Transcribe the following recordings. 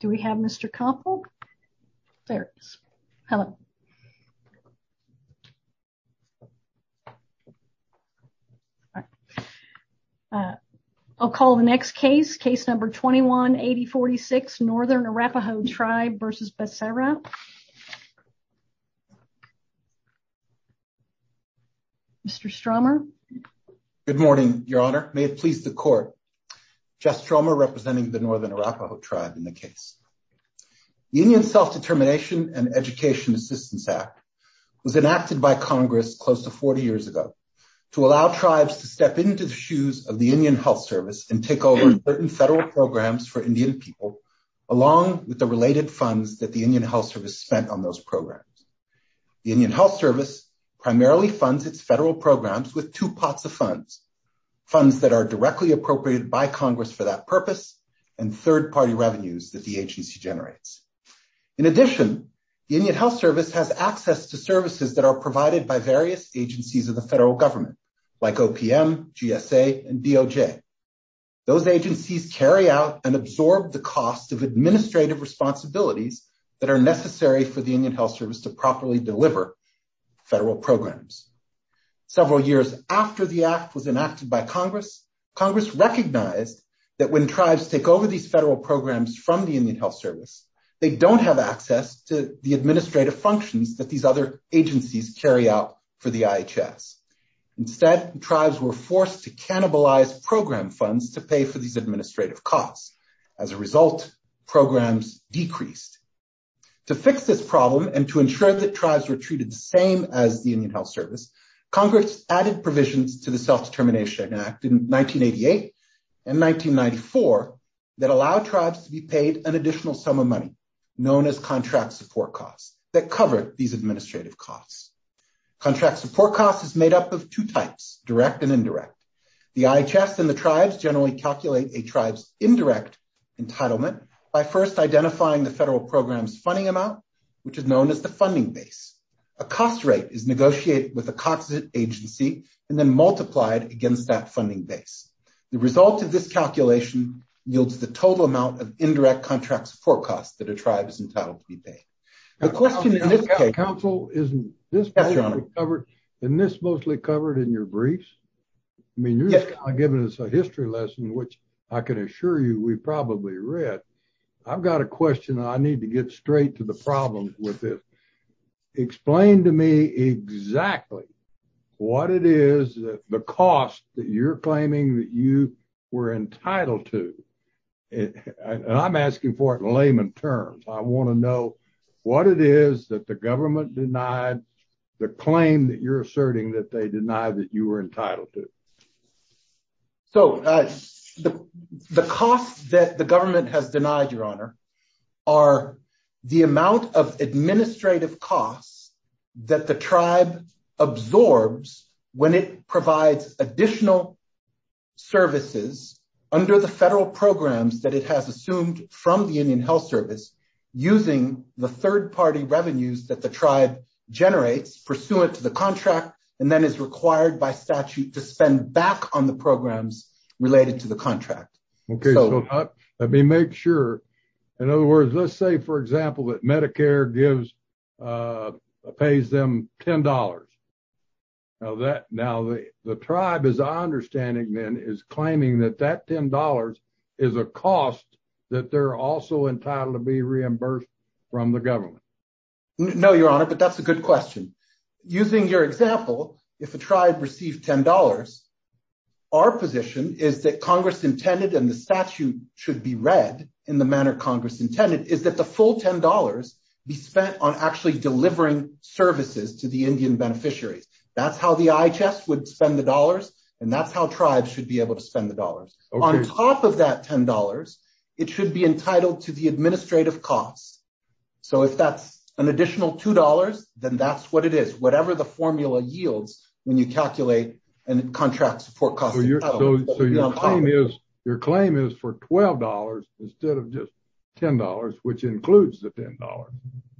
Do we have Mr. Koppel? There he is. Hello. I'll call the next case. Case number 21-8046 Northern Arapaho Tribe v. Becerra. Mr. Stromer. Good morning, Your Honor. May it please the court. Jess Stromer representing the Northern Arapaho Tribe in the case. The Indian Self-Determination and Education Assistance Act was enacted by Congress close to 40 years ago to allow tribes to step into the shoes of the Indian Health Service and take over certain federal programs for Indian people, along with the related funds that the Indian Health Service spent on those programs. The Indian Health Service primarily funds its federal programs with two pots of funds, funds that are directly appropriated by Congress for that purpose, and third-party revenues that the agency generates. In addition, the Indian Health Service has access to services that are provided by various agencies of the federal government, like OPM, GSA, and DOJ. Those agencies carry out and absorb the cost of administrative responsibilities that are necessary for the Indian Health Service to properly deliver federal programs. Several years after the act was enacted by Congress, Congress recognized that when tribes take over these federal programs from the Indian Health Service, they don't have access to the administrative functions that these other agencies carry out for the IHS. Instead, tribes were forced to cannibalize program funds to pay for these administrative costs. As a result, programs decreased. To fix this problem and to ensure that tribes were treated the same as the Indian Health Service, Congress added provisions to the Self-Determination Act in 1988 and 1994 that allowed tribes to be paid an additional sum of money, known as contract support costs, that covered these administrative costs. Contract support costs is made up of two types, direct and indirect. The IHS and the tribes generally calculate a tribe's indirect entitlement by first identifying the federal program's funding amount, which is known as the funding base. A cost rate is negotiated with a constant agency and then multiplied against that funding base. The result of this calculation yields the total amount of indirect contract support costs that a tribe is entitled to be paid. The question is, Counsel, isn't this mostly covered in your briefs? I mean, you're giving us a history lesson, which I can assure you we've probably read. I've got a question I need to get straight to the problem with this. Explain to me exactly what it is, the cost that you're claiming that you were entitled to. And I'm asking for it in layman terms. I want to know what it is that the government denied the claim that you're asserting that they denied that you were entitled to. So, the costs that the government has denied, Your Honor, are the amount of administrative costs that the tribe absorbs when it provides additional services under the federal programs that it has assumed from the Indian Health Service, using the third party revenues that the tribe generates, pursuant to the contract, and then is required by statute to spend back on the programs related to the contract. Okay, so let me make sure. In other words, let's say, for example, that Medicare pays them $10. Now, the tribe, as I understand it, is claiming that that $10 is a cost that they're also entitled to be reimbursed from the government. No, Your Honor, but that's a good question. Using your example, if a tribe received $10, our position is that Congress intended and the statute should be read in the manner Congress intended, is that the full $10 be spent on actually delivering services to the Indian beneficiaries. That's how the IHS would spend the dollars, and that's how tribes should be able to spend the dollars. On top of that $10, it should be entitled to the administrative costs. So if that's an additional $2, then that's what it is, whatever the formula yields when you calculate and contract support costs. So your claim is for $12 instead of just $10, which includes the $10.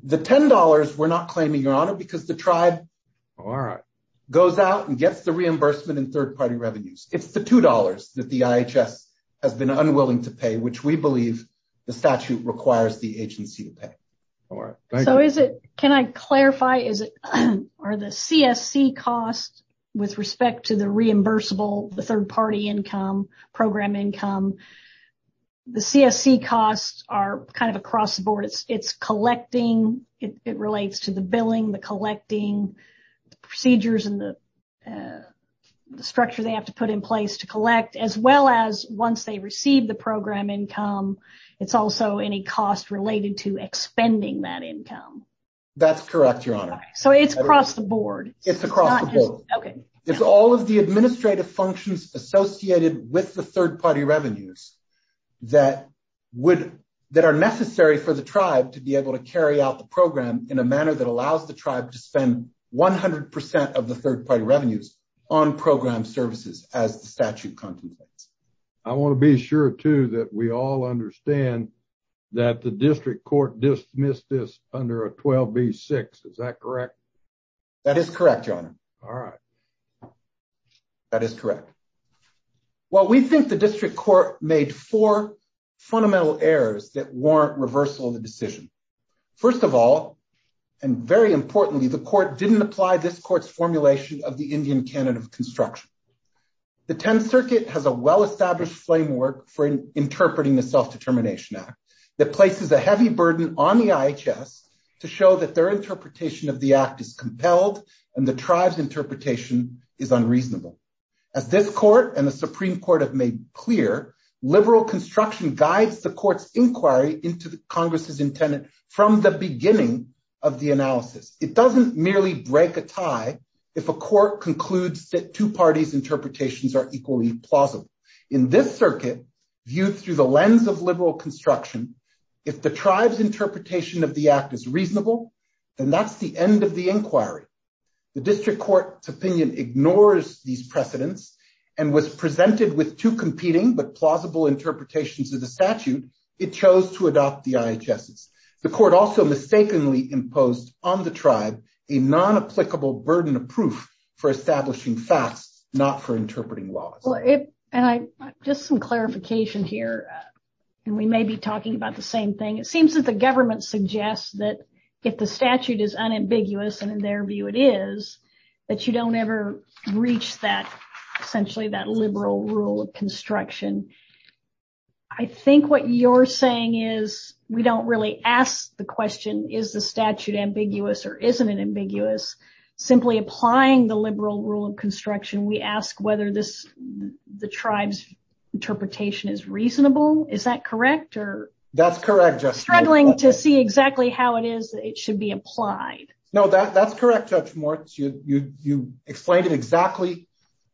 The $10 we're not claiming, Your Honor, because the tribe goes out and gets the reimbursement in third party revenues. It's the $2 that the IHS has been unwilling to pay, which we believe the statute requires the agency to pay. So is it, can I clarify, are the CSC costs with respect to the reimbursable, the third party income, program income, the CSC costs are kind of across the board. It's collecting, it relates to the billing, the collecting, the procedures and the structure they have to put in place to collect, as well as once they receive the program income, it's also any cost related to expending that income. That's correct, Your Honor. So it's across the board. It's all of the administrative functions associated with the third party revenues that are necessary for the tribe to be able to carry out the program in a manner that allows the tribe to spend 100% of the third party revenues on program services as the statute contemplates. I want to be sure, too, that we all understand that the district court dismissed this under a 12B6. Is that correct? That is correct, Your Honor. All right. That is correct. Well, we think the district court made four fundamental errors that warrant reversal of the decision. First of all, and very importantly, the court didn't apply this court's formulation of the Indian Canada of construction. The 10th Circuit has a well-established framework for interpreting the Self-Determination Act that places a heavy burden on the IHS to show that their interpretation of the act is compelled and the tribe's interpretation is unreasonable. As this court and the Supreme Court have made clear, liberal construction guides the court's inquiry into Congress's intent from the beginning of the analysis. It doesn't merely break a tie if a court concludes that two parties' interpretations are equally plausible. In this circuit, viewed through the lens of liberal construction, if the tribe's interpretation of the act is reasonable, then that's the end of the inquiry. The district court's opinion ignores these precedents and was presented with two competing but plausible interpretations of the statute. It chose to adopt the IHS's. The court also mistakenly imposed on the tribe a non-applicable burden of proof for establishing facts, not for interpreting laws. Just some clarification here. We may be talking about the same thing. It seems that the government suggests that if the statute is unambiguous, and in their view it is, that you don't ever reach essentially that liberal rule of construction. I think what you're saying is we don't really ask the question, is the statute ambiguous or isn't it ambiguous? Simply applying the liberal rule of construction, we ask whether the tribe's interpretation is reasonable. Is that correct? That's correct, Judge Morton. Struggling to see exactly how it is that it should be applied. No, that's correct, Judge Morton. You explained it exactly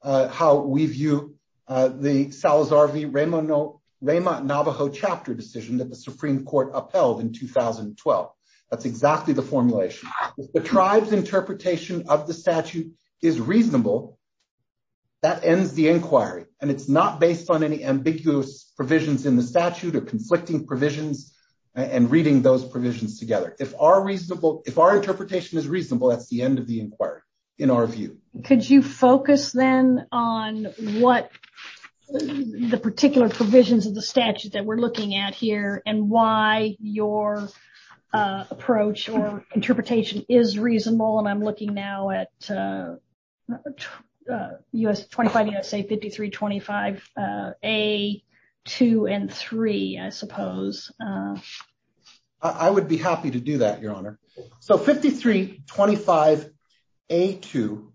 how we view the Salazar v. Ramo Navajo chapter decision that the Supreme Court upheld in 2012. That's exactly the formulation. If the tribe's interpretation of the statute is reasonable, that ends the inquiry. And it's not based on any ambiguous provisions in the statute or conflicting provisions and reading those provisions together. If our interpretation is reasonable, that's the end of the inquiry, in our view. Could you focus then on what the particular provisions of the statute that we're looking at here and why your approach or interpretation is reasonable? And I'm looking now at U.S. 25, USA 53, 25, A, 2, and 3, I suppose. I would be happy to do that, Your Honor. So 53, 25, A, 2,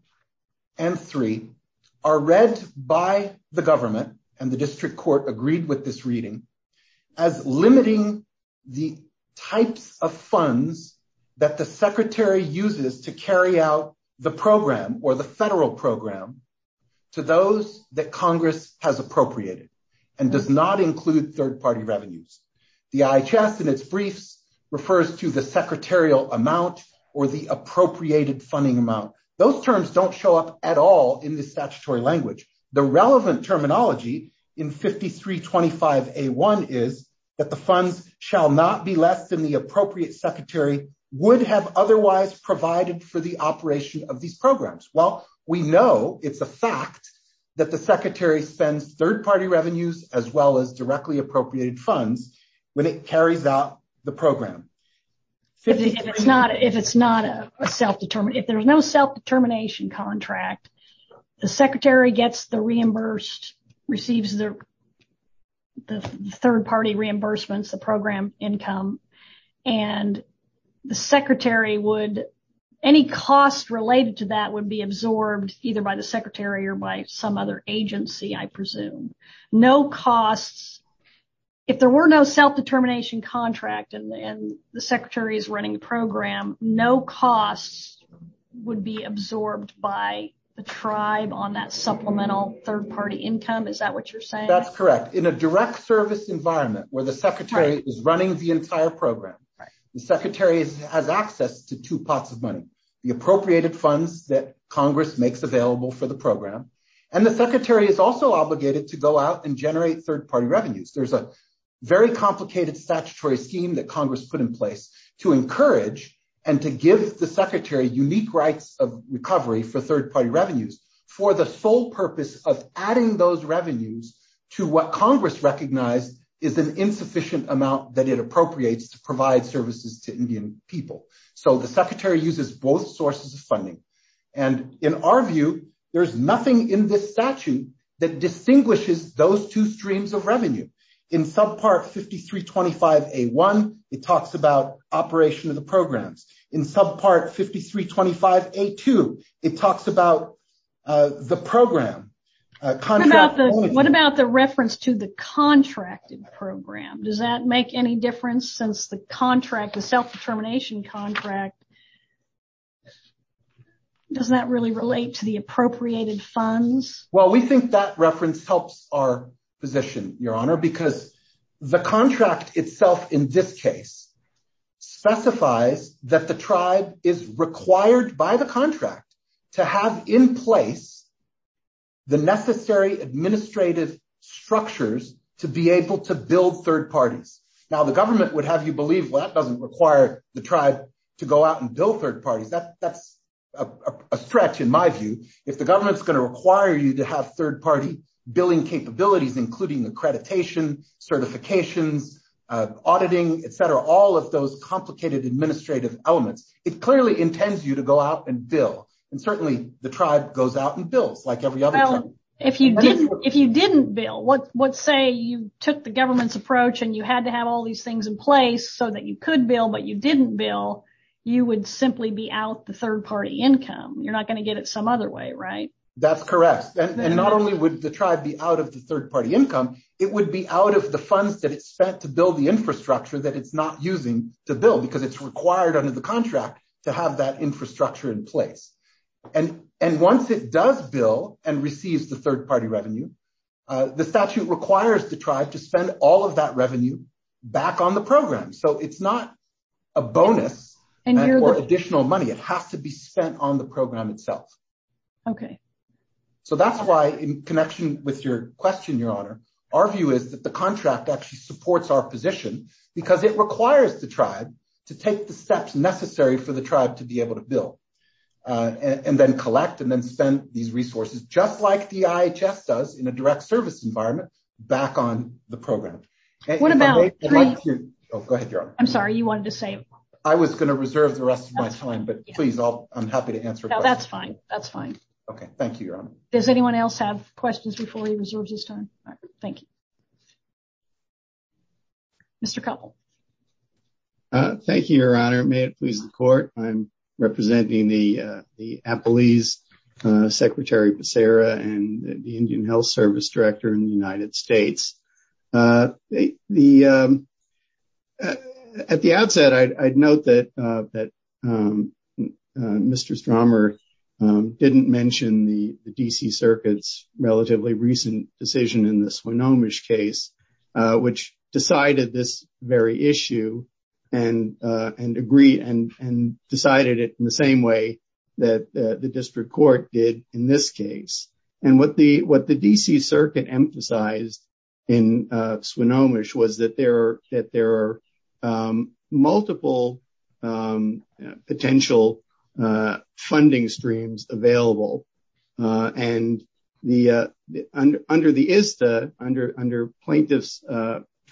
and 3 are read by the government and the district court agreed with this reading as limiting the types of funds that the secretary uses to carry out the program or the federal program to those that Congress has appropriated and does not include third-party revenues. The IHS in its briefs refers to the secretarial amount or the appropriated funding amount. Those terms don't show up at all in the statutory language. The relevant terminology in 53, 25, A, 1 is that the funds shall not be less than the appropriate secretary would have otherwise provided for the operation of these programs. Well, we know it's a fact that the secretary spends third-party revenues as well as directly appropriated funds when it carries out the program. If it's not a self-determination, if there's no self-determination contract, the secretary gets the reimbursed, receives the third-party reimbursements, the program income, and the secretary would, any cost related to that would be absorbed either by the secretary or by some other agency, I presume. No costs. If there were no self-determination contract and the secretary is running a program, no costs would be absorbed by the tribe on that supplemental third-party income. Is that what you're saying? That's correct. In a direct service environment where the secretary is running the entire program, the secretary has access to two pots of money, the appropriated funds that Congress makes available for the program, and the secretary is also obligated to go out and generate third-party revenues. There's a very complicated statutory scheme that Congress put in place to encourage and to give the secretary unique rights of recovery for third-party revenues for the sole purpose of adding those revenues to what Congress recognized is an insufficient amount that it appropriates to provide services to Indian people. So the secretary uses both sources of funding. And in our view, there's nothing in this statute that distinguishes those two streams of revenue. In subpart 5325A1, it talks about operation of the programs. In subpart 5325A2, it talks about the program. What about the reference to the contracted program? Does that make any difference since the contract, the self-determination contract, does that really relate to the appropriated funds? Well, we think that reference helps our position, Your Honor, because the contract itself in this case specifies that the tribe is required by the contract to have in place the necessary administrative structures to be able to build third parties. Now, the government would have you believe, well, that doesn't require the tribe to go out and build third parties. That's a stretch in my view. If the government's going to require you to have third-party billing capabilities, including accreditation, certifications, auditing, et cetera, all of those complicated administrative elements, it clearly intends you to go out and bill. And certainly the tribe goes out and bills like every other tribe. If you didn't bill, let's say you took the government's approach and you had to have all these things in place so that you could bill, but you didn't bill, you would simply be out the third-party income. You're not going to get it some other way, right? That's correct. And not only would the tribe be out of the third-party income, it would be out of the funds that it spent to build the infrastructure that it's not using to build because it's required under the contract to have that infrastructure in place. And once it does bill and receives the third-party revenue, the statute requires the tribe to spend all of that revenue back on the program. So it's not a bonus or additional money. It has to be spent on the program itself. Okay. So that's why in connection with your question, Your Honor, our view is that the contract actually supports our position because it requires the tribe to take the steps necessary for the tribe to be able to bill and then collect and then spend these resources, just like the IHS does in a direct service environment, back on the program. What about... Oh, go ahead, Your Honor. I'm sorry, you wanted to say... I was going to reserve the rest of my time, but please, I'm happy to answer questions. No, that's fine. That's fine. Okay, thank you, Your Honor. Does anyone else have questions before he reserves his time? Thank you. Mr. Koppel. Thank you, Your Honor. May it please the Court. I'm representing the Apalis, Secretary Becerra, and the Indian Health Service Director in the United States. At the outset, I'd note that Mr. Stromer didn't mention the D.C. Circuit's relatively recent decision in the Swinomish case, which decided this very issue and agreed and decided it in the same way that the district court did in this case. And what the D.C. Circuit emphasized in Swinomish was that there are multiple potential funding streams available. And under the ISTA, under plaintiff's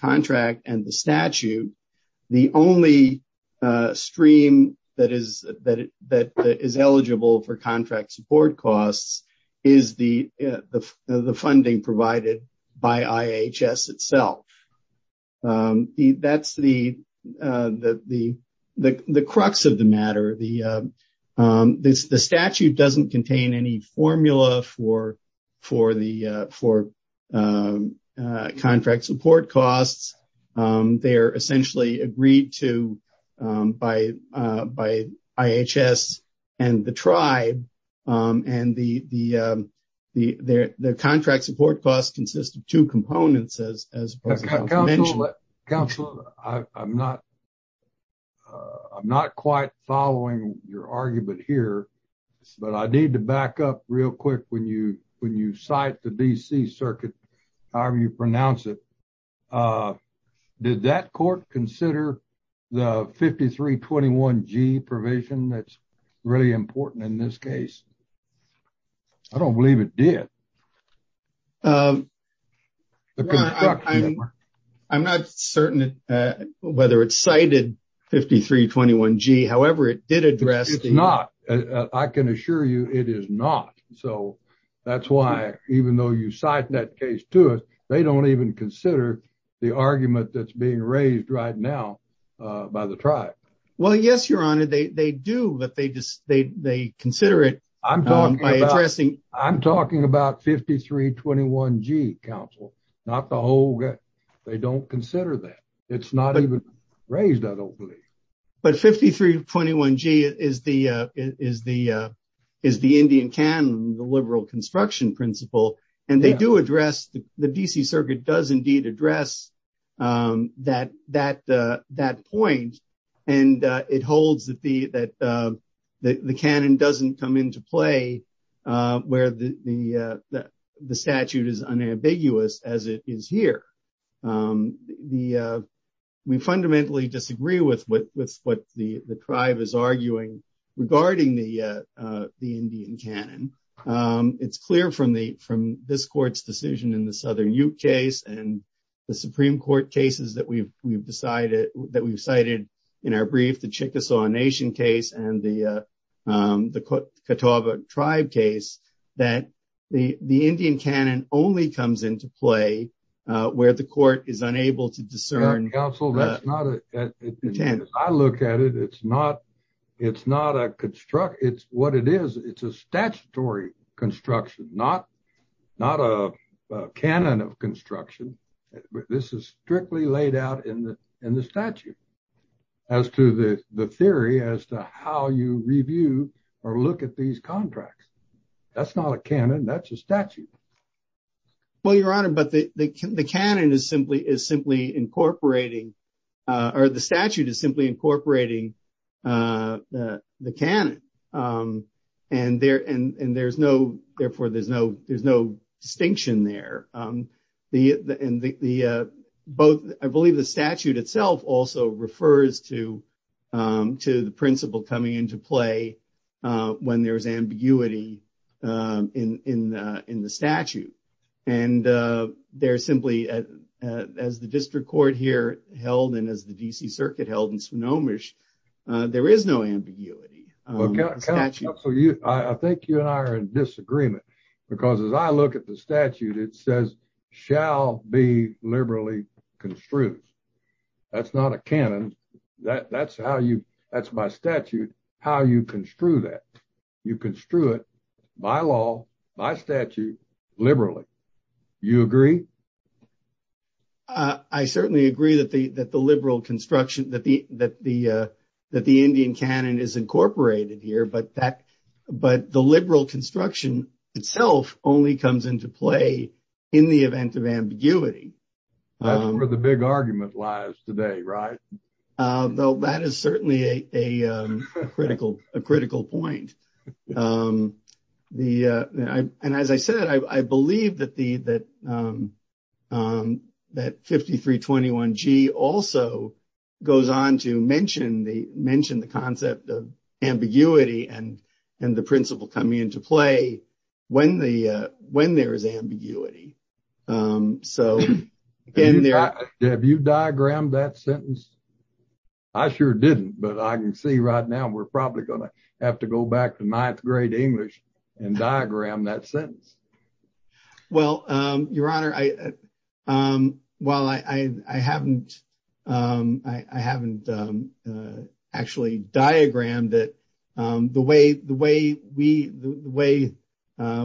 contract and the statute, the only stream that is eligible for contract support costs is the funding provided by IHS itself. That's the crux of the matter. The statute doesn't contain any formula for contract support costs. They are essentially agreed to by IHS and the tribe, and the contract support costs consist of two components, as mentioned. Counselor, I'm not quite following your argument here, but I need to back up real quick when you cite the D.C. Circuit, however you pronounce it. Did that court consider the 5321G provision that's really important in this case? I don't believe it did. I'm not certain whether it cited 5321G. However, it did address. It's not. I can assure you it is not. So that's why, even though you cite that case to us, they don't even consider the argument that's being raised right now by the tribe. Well, yes, Your Honor, they do, but they consider it. I'm talking about 5321G, Counselor, not the whole. They don't consider that. It's not even raised, I don't believe. But 5321G is the Indian canon, the liberal construction principle, and they do address. The D.C. Circuit does indeed address that point. And it holds that the canon doesn't come into play where the statute is unambiguous as it is here. We fundamentally disagree with what the tribe is arguing regarding the Indian canon. It's clear from the from this court's decision in the Southern Ute case and the Supreme Court cases that we've we've decided that we've cited in our brief, the Chickasaw Nation case and the the Catawba tribe case that the the Indian canon only comes into play where the court is unable to discern. I look at it. It's not it's not a construct. It's what it is. It's a statutory construction, not not a canon of construction. This is strictly laid out in the in the statute as to the theory as to how you review or look at these contracts. That's not a canon. That's a statute. Well, Your Honor, but the canon is simply is simply incorporating or the statute is simply incorporating the canon and there and there's no. Therefore, there's no there's no distinction there. And the both I believe the statute itself also refers to to the principle coming into play when there is ambiguity in in in the statute. And they're simply as the district court here held in as the D.C. circuit held in Sonoma. There is no ambiguity. So you I think you and I are in disagreement because as I look at the statute, it says shall be liberally construed. That's not a canon. That's how you that's my statute. How you construe that you construe it by law, by statute, liberally. You agree. I certainly agree that the that the liberal construction, that the that the that the Indian canon is incorporated here. But that but the liberal construction itself only comes into play in the event of ambiguity. Where the big argument lies today. Right. That is certainly a critical a critical point. And as I said, I believe that the that that fifty three twenty one G also goes on to mention the mention the concept of ambiguity and and the principle coming into play when the when there is ambiguity. So in there, have you diagrammed that sentence? I sure didn't. But I can see right now we're probably going to have to go back to ninth grade English and diagram that sentence. Well, your honor, I while I haven't I haven't actually diagram that the way the way we the way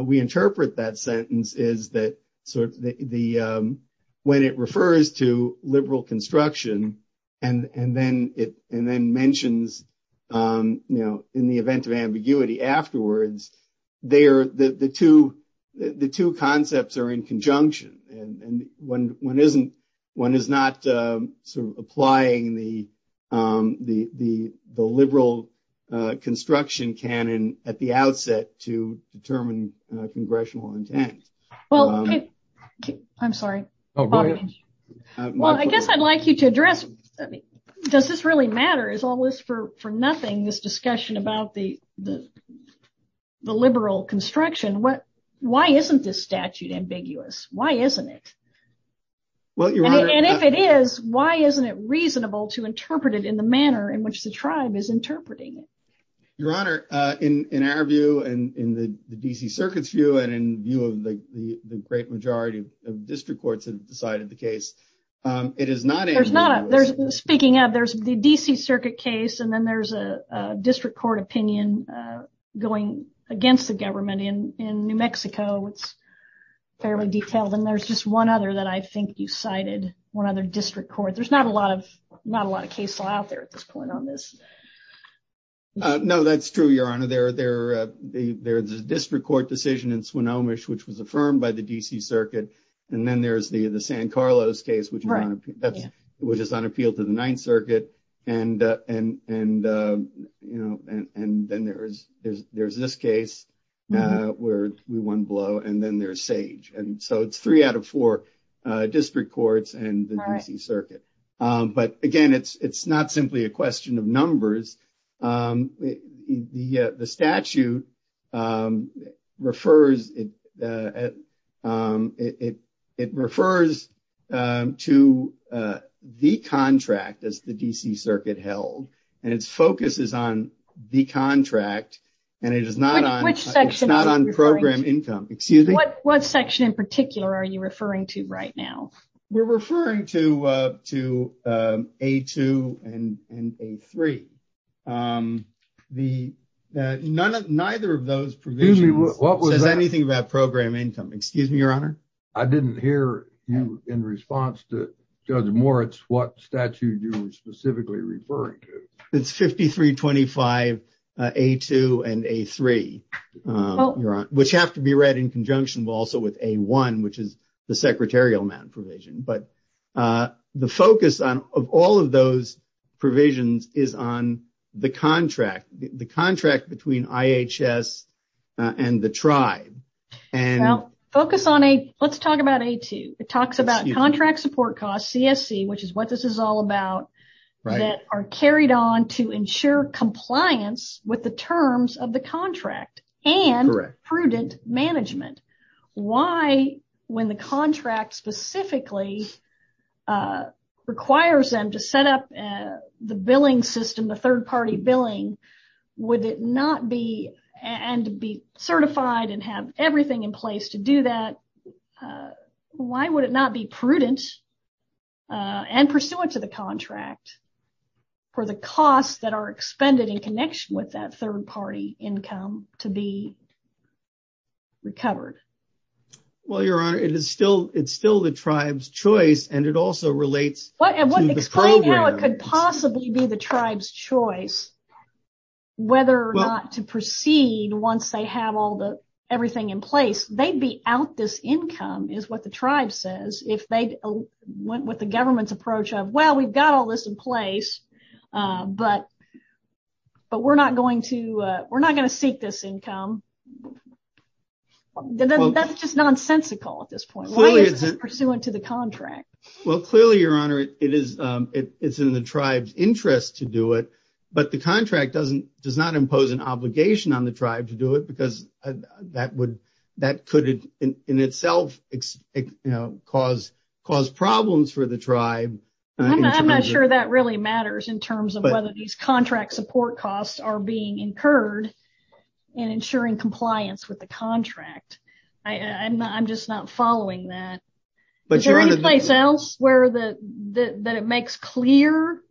we interpret that sentence is that sort of the when it refers to liberal construction and then it and then mentions, you know, in the event of ambiguity afterwards, they are the two the two concepts are in conjunction. And when one isn't one is not applying the the the the liberal construction canon at the outset to determine congressional intent. Well, I'm sorry. Well, I guess I'd like you to address. Does this really matter is all this for for nothing. This discussion about the the the liberal construction. What why isn't this statute ambiguous? Why isn't it? Well, and if it is, why isn't it reasonable to interpret it in the manner in which the tribe is interpreting it? Your honor, in our view and in the D.C. circuit's view and in view of the great majority of district courts have decided the case, it is not. There's not speaking of there's the D.C. circuit case and then there's a district court opinion going against the government in in New Mexico. It's fairly detailed and there's just one other that I think you cited one other district court. There's not a lot of not a lot of cases out there at this point on this. No, that's true, your honor. There are there. There is a district court decision in Swinomish, which was affirmed by the D.C. circuit. And then there is the San Carlos case, which is on appeal to the Ninth Circuit. And and and, you know, and then there is there's there's this case where we won blow and then there's sage. And so it's three out of four district courts and the D.C. circuit. But again, it's it's not simply a question of numbers. The statute refers it. It it refers to the contract as the D.C. circuit held and its focus is on the contract. And it is not on program income. Excuse me. What section in particular are you referring to right now? We're referring to to a two and a three. The none of neither of those provisions. What was anything about program income? Excuse me, your honor. I didn't hear you in response to Judge Moritz. What statute you specifically referring to? It's fifty three, twenty five, a two and a three. Which have to be read in conjunction also with a one, which is the secretarial provision. But the focus of all of those provisions is on the contract, the contract between IHS and the tribe. Focus on a let's talk about a two. It talks about contract support costs, CSC, which is what this is all about. That are carried on to ensure compliance with the terms of the contract and prudent management. Why when the contract specifically requires them to set up the billing system, the third party billing, would it not be and be certified and have everything in place to do that? Why would it not be prudent and pursuant to the contract for the costs that are expended in connection with that third party income to be recovered? Well, your honor, it is still it's still the tribe's choice and it also relates. But explain how it could possibly be the tribe's choice. Whether or not to proceed once they have all the everything in place, they'd be out. This income is what the tribe says if they went with the government's approach of, well, we've got all this in place. But. But we're not going to we're not going to seek this income. That's just nonsensical at this point. It's pursuant to the contract. Well, clearly, your honor, it is it's in the tribe's interest to do it. But the contract doesn't does not impose an obligation on the tribe to do it because that would that could in itself cause cause problems for the tribe. I'm not sure that really matters in terms of whether these contract support costs are being incurred and ensuring compliance with the contract. I'm just not following that. But you're in a place else where the that it makes clear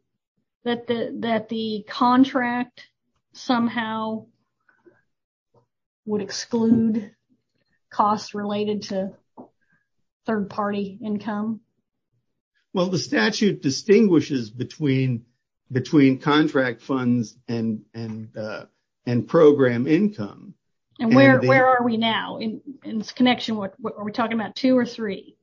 that that the contract somehow. Would exclude costs related to third party income. Well, the statute distinguishes between between contract funds and and and program income. And where where are we now in this connection? What are we talking about? Two or three?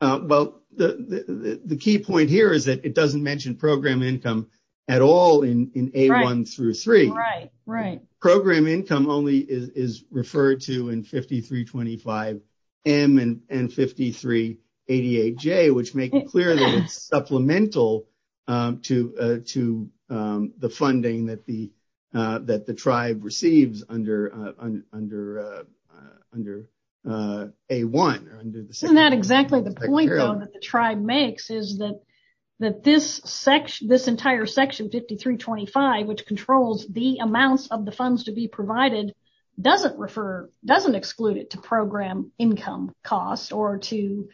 Well, the key point here is that it doesn't mention program income at all in a one through three. Right. Right. Program income only is referred to in fifty three. Twenty five M and fifty three eighty eight J, which make it clear that it's supplemental to to the funding that the that the tribe receives under under under a one. Isn't that exactly the point that the tribe makes is that that this section, this entire section fifty three twenty five, which controls the amounts of the funds to be provided, doesn't refer doesn't exclude it to program income costs or to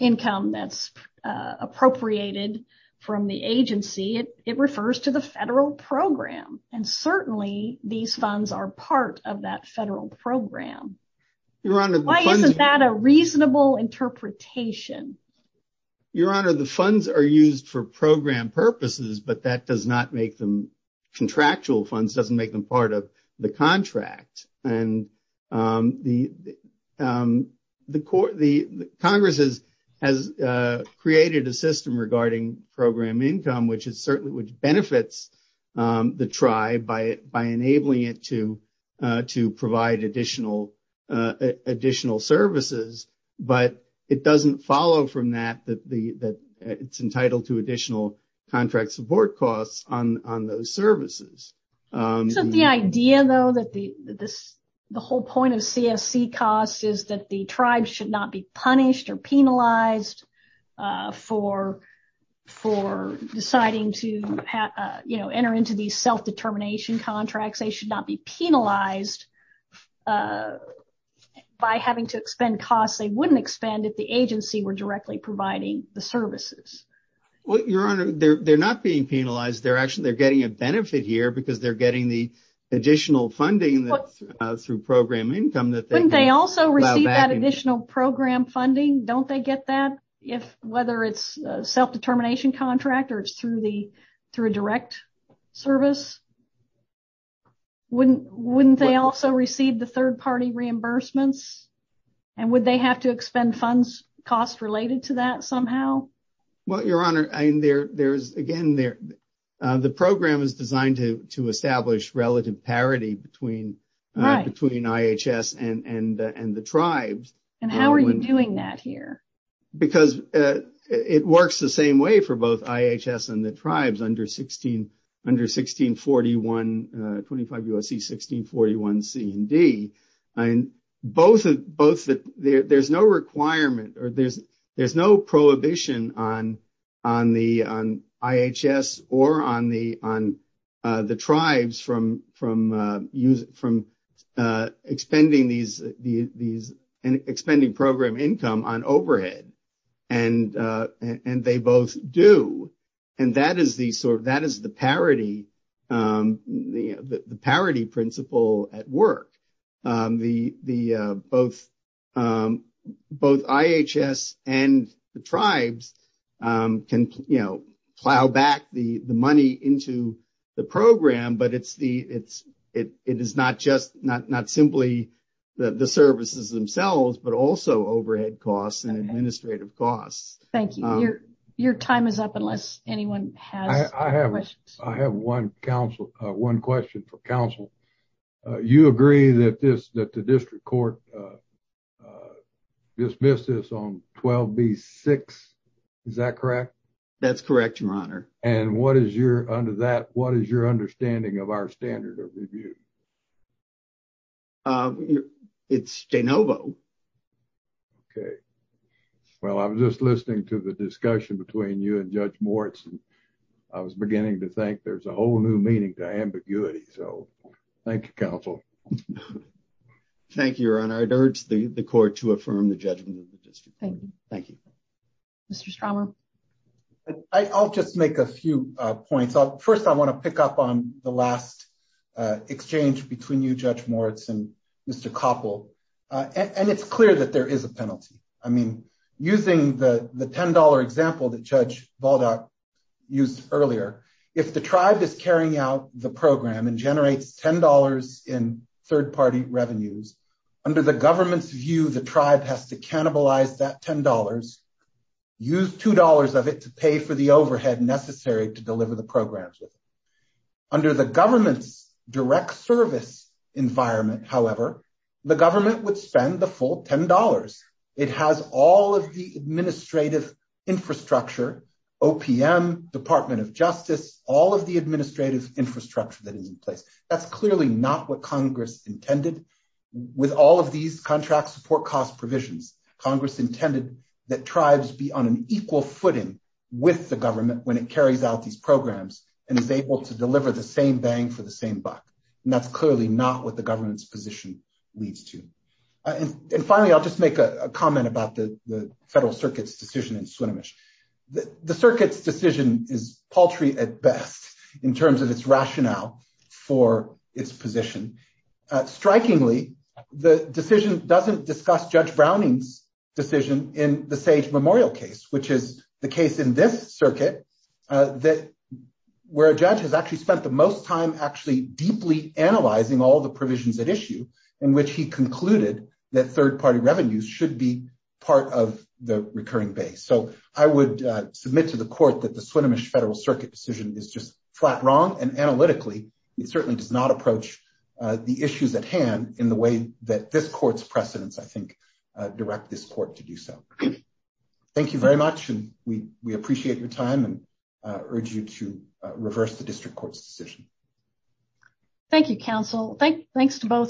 income that's appropriated from the agency. It refers to the federal program. And certainly these funds are part of that federal program. Your Honor, why isn't that a reasonable interpretation? Your Honor, the funds are used for program purposes, but that does not make them contractual funds, doesn't make them part of the contract. And the the court, the Congress has has created a system regarding program income, which is certainly which benefits the tribe by by enabling it to to provide additional additional services. But it doesn't follow from that, that the that it's entitled to additional contract support costs on on those services. So the idea, though, that the this the whole point of CSC costs is that the tribes should not be punished or penalized for for deciding to enter into these self determination contracts. They should not be penalized by having to expend costs. They wouldn't expend it. The agency were directly providing the services. Well, your honor, they're not being penalized. They're actually they're getting a benefit here because they're getting the additional funding through program income that they also receive that additional program funding. Don't they get that if whether it's self determination contract or it's through the through a direct service? Wouldn't wouldn't they also receive the third party reimbursements and would they have to expend funds cost related to that somehow? Well, your honor, I mean, there there's again, there the program is designed to to establish relative parity between right between IHS and and and the tribes. And how are you doing that here? Because it works the same way for both IHS and the tribes under 16 under 16, 41, 25, USC, 16, 41, C and D. And both of both that there's no requirement or there's there's no prohibition on on the on IHS or on the on the tribes from from use from expending these these expending program income on overhead. And and they both do. And that is the sort of that is the parity, the parity principle at work, the the both both IHS and the tribes can plow back the money into the program. But it's the it's it is not just not not simply the services themselves, but also overhead costs and administrative costs. Thank you. Your your time is up unless anyone has. I have I have one council, one question for counsel. You agree that this that the district court dismissed this on 12B6. Is that correct? That's correct, Your Honor. And what is your under that? What is your understanding of our standard of review? It's de novo. OK, well, I'm just listening to the discussion between you and Judge Moritz. I was beginning to think there's a whole new meaning to ambiguity. So thank you, counsel. Thank you, Your Honor. I urge the court to affirm the judgment of the district. Thank you. Thank you, Mr. Stromer. I'll just make a few points. First, I want to pick up on the last exchange between you, Judge Moritz and Mr. Koppel. And it's clear that there is a penalty. I mean, using the $10 example that Judge Baldock used earlier, if the tribe is carrying out the program and generates $10 in third party revenues under the government's view, the tribe has to cannibalize that $10, use $2 of it to pay for the overhead necessary to deliver the programs. Under the government's direct service environment, however, the government would spend the full $10. It has all of the administrative infrastructure, OPM, Department of Justice, all of the administrative infrastructure that is in place. That's clearly not what Congress intended. With all of these contract support cost provisions, Congress intended that tribes be on an equal footing with the government when it carries out these programs and is able to deliver the same bang for the same buck. And that's clearly not what the government's position leads to. And finally, I'll just make a comment about the Federal Circuit's decision in Swinomish. The circuit's decision is paltry at best in terms of its rationale for its position. Strikingly, the decision doesn't discuss Judge Browning's decision in the Sage Memorial case, which is the case in this circuit where a judge has actually spent the most time actually deeply analyzing all the provisions at issue in which he concluded that third party revenues should be part of the recurring base. So I would submit to the court that the Swinomish Federal Circuit decision is just flat wrong. And analytically, it certainly does not approach the issues at hand in the way that this court's precedents, I think, direct this court to do so. Thank you very much. And we appreciate your time and urge you to reverse the district court's decision. Thank you, counsel. Thanks to both.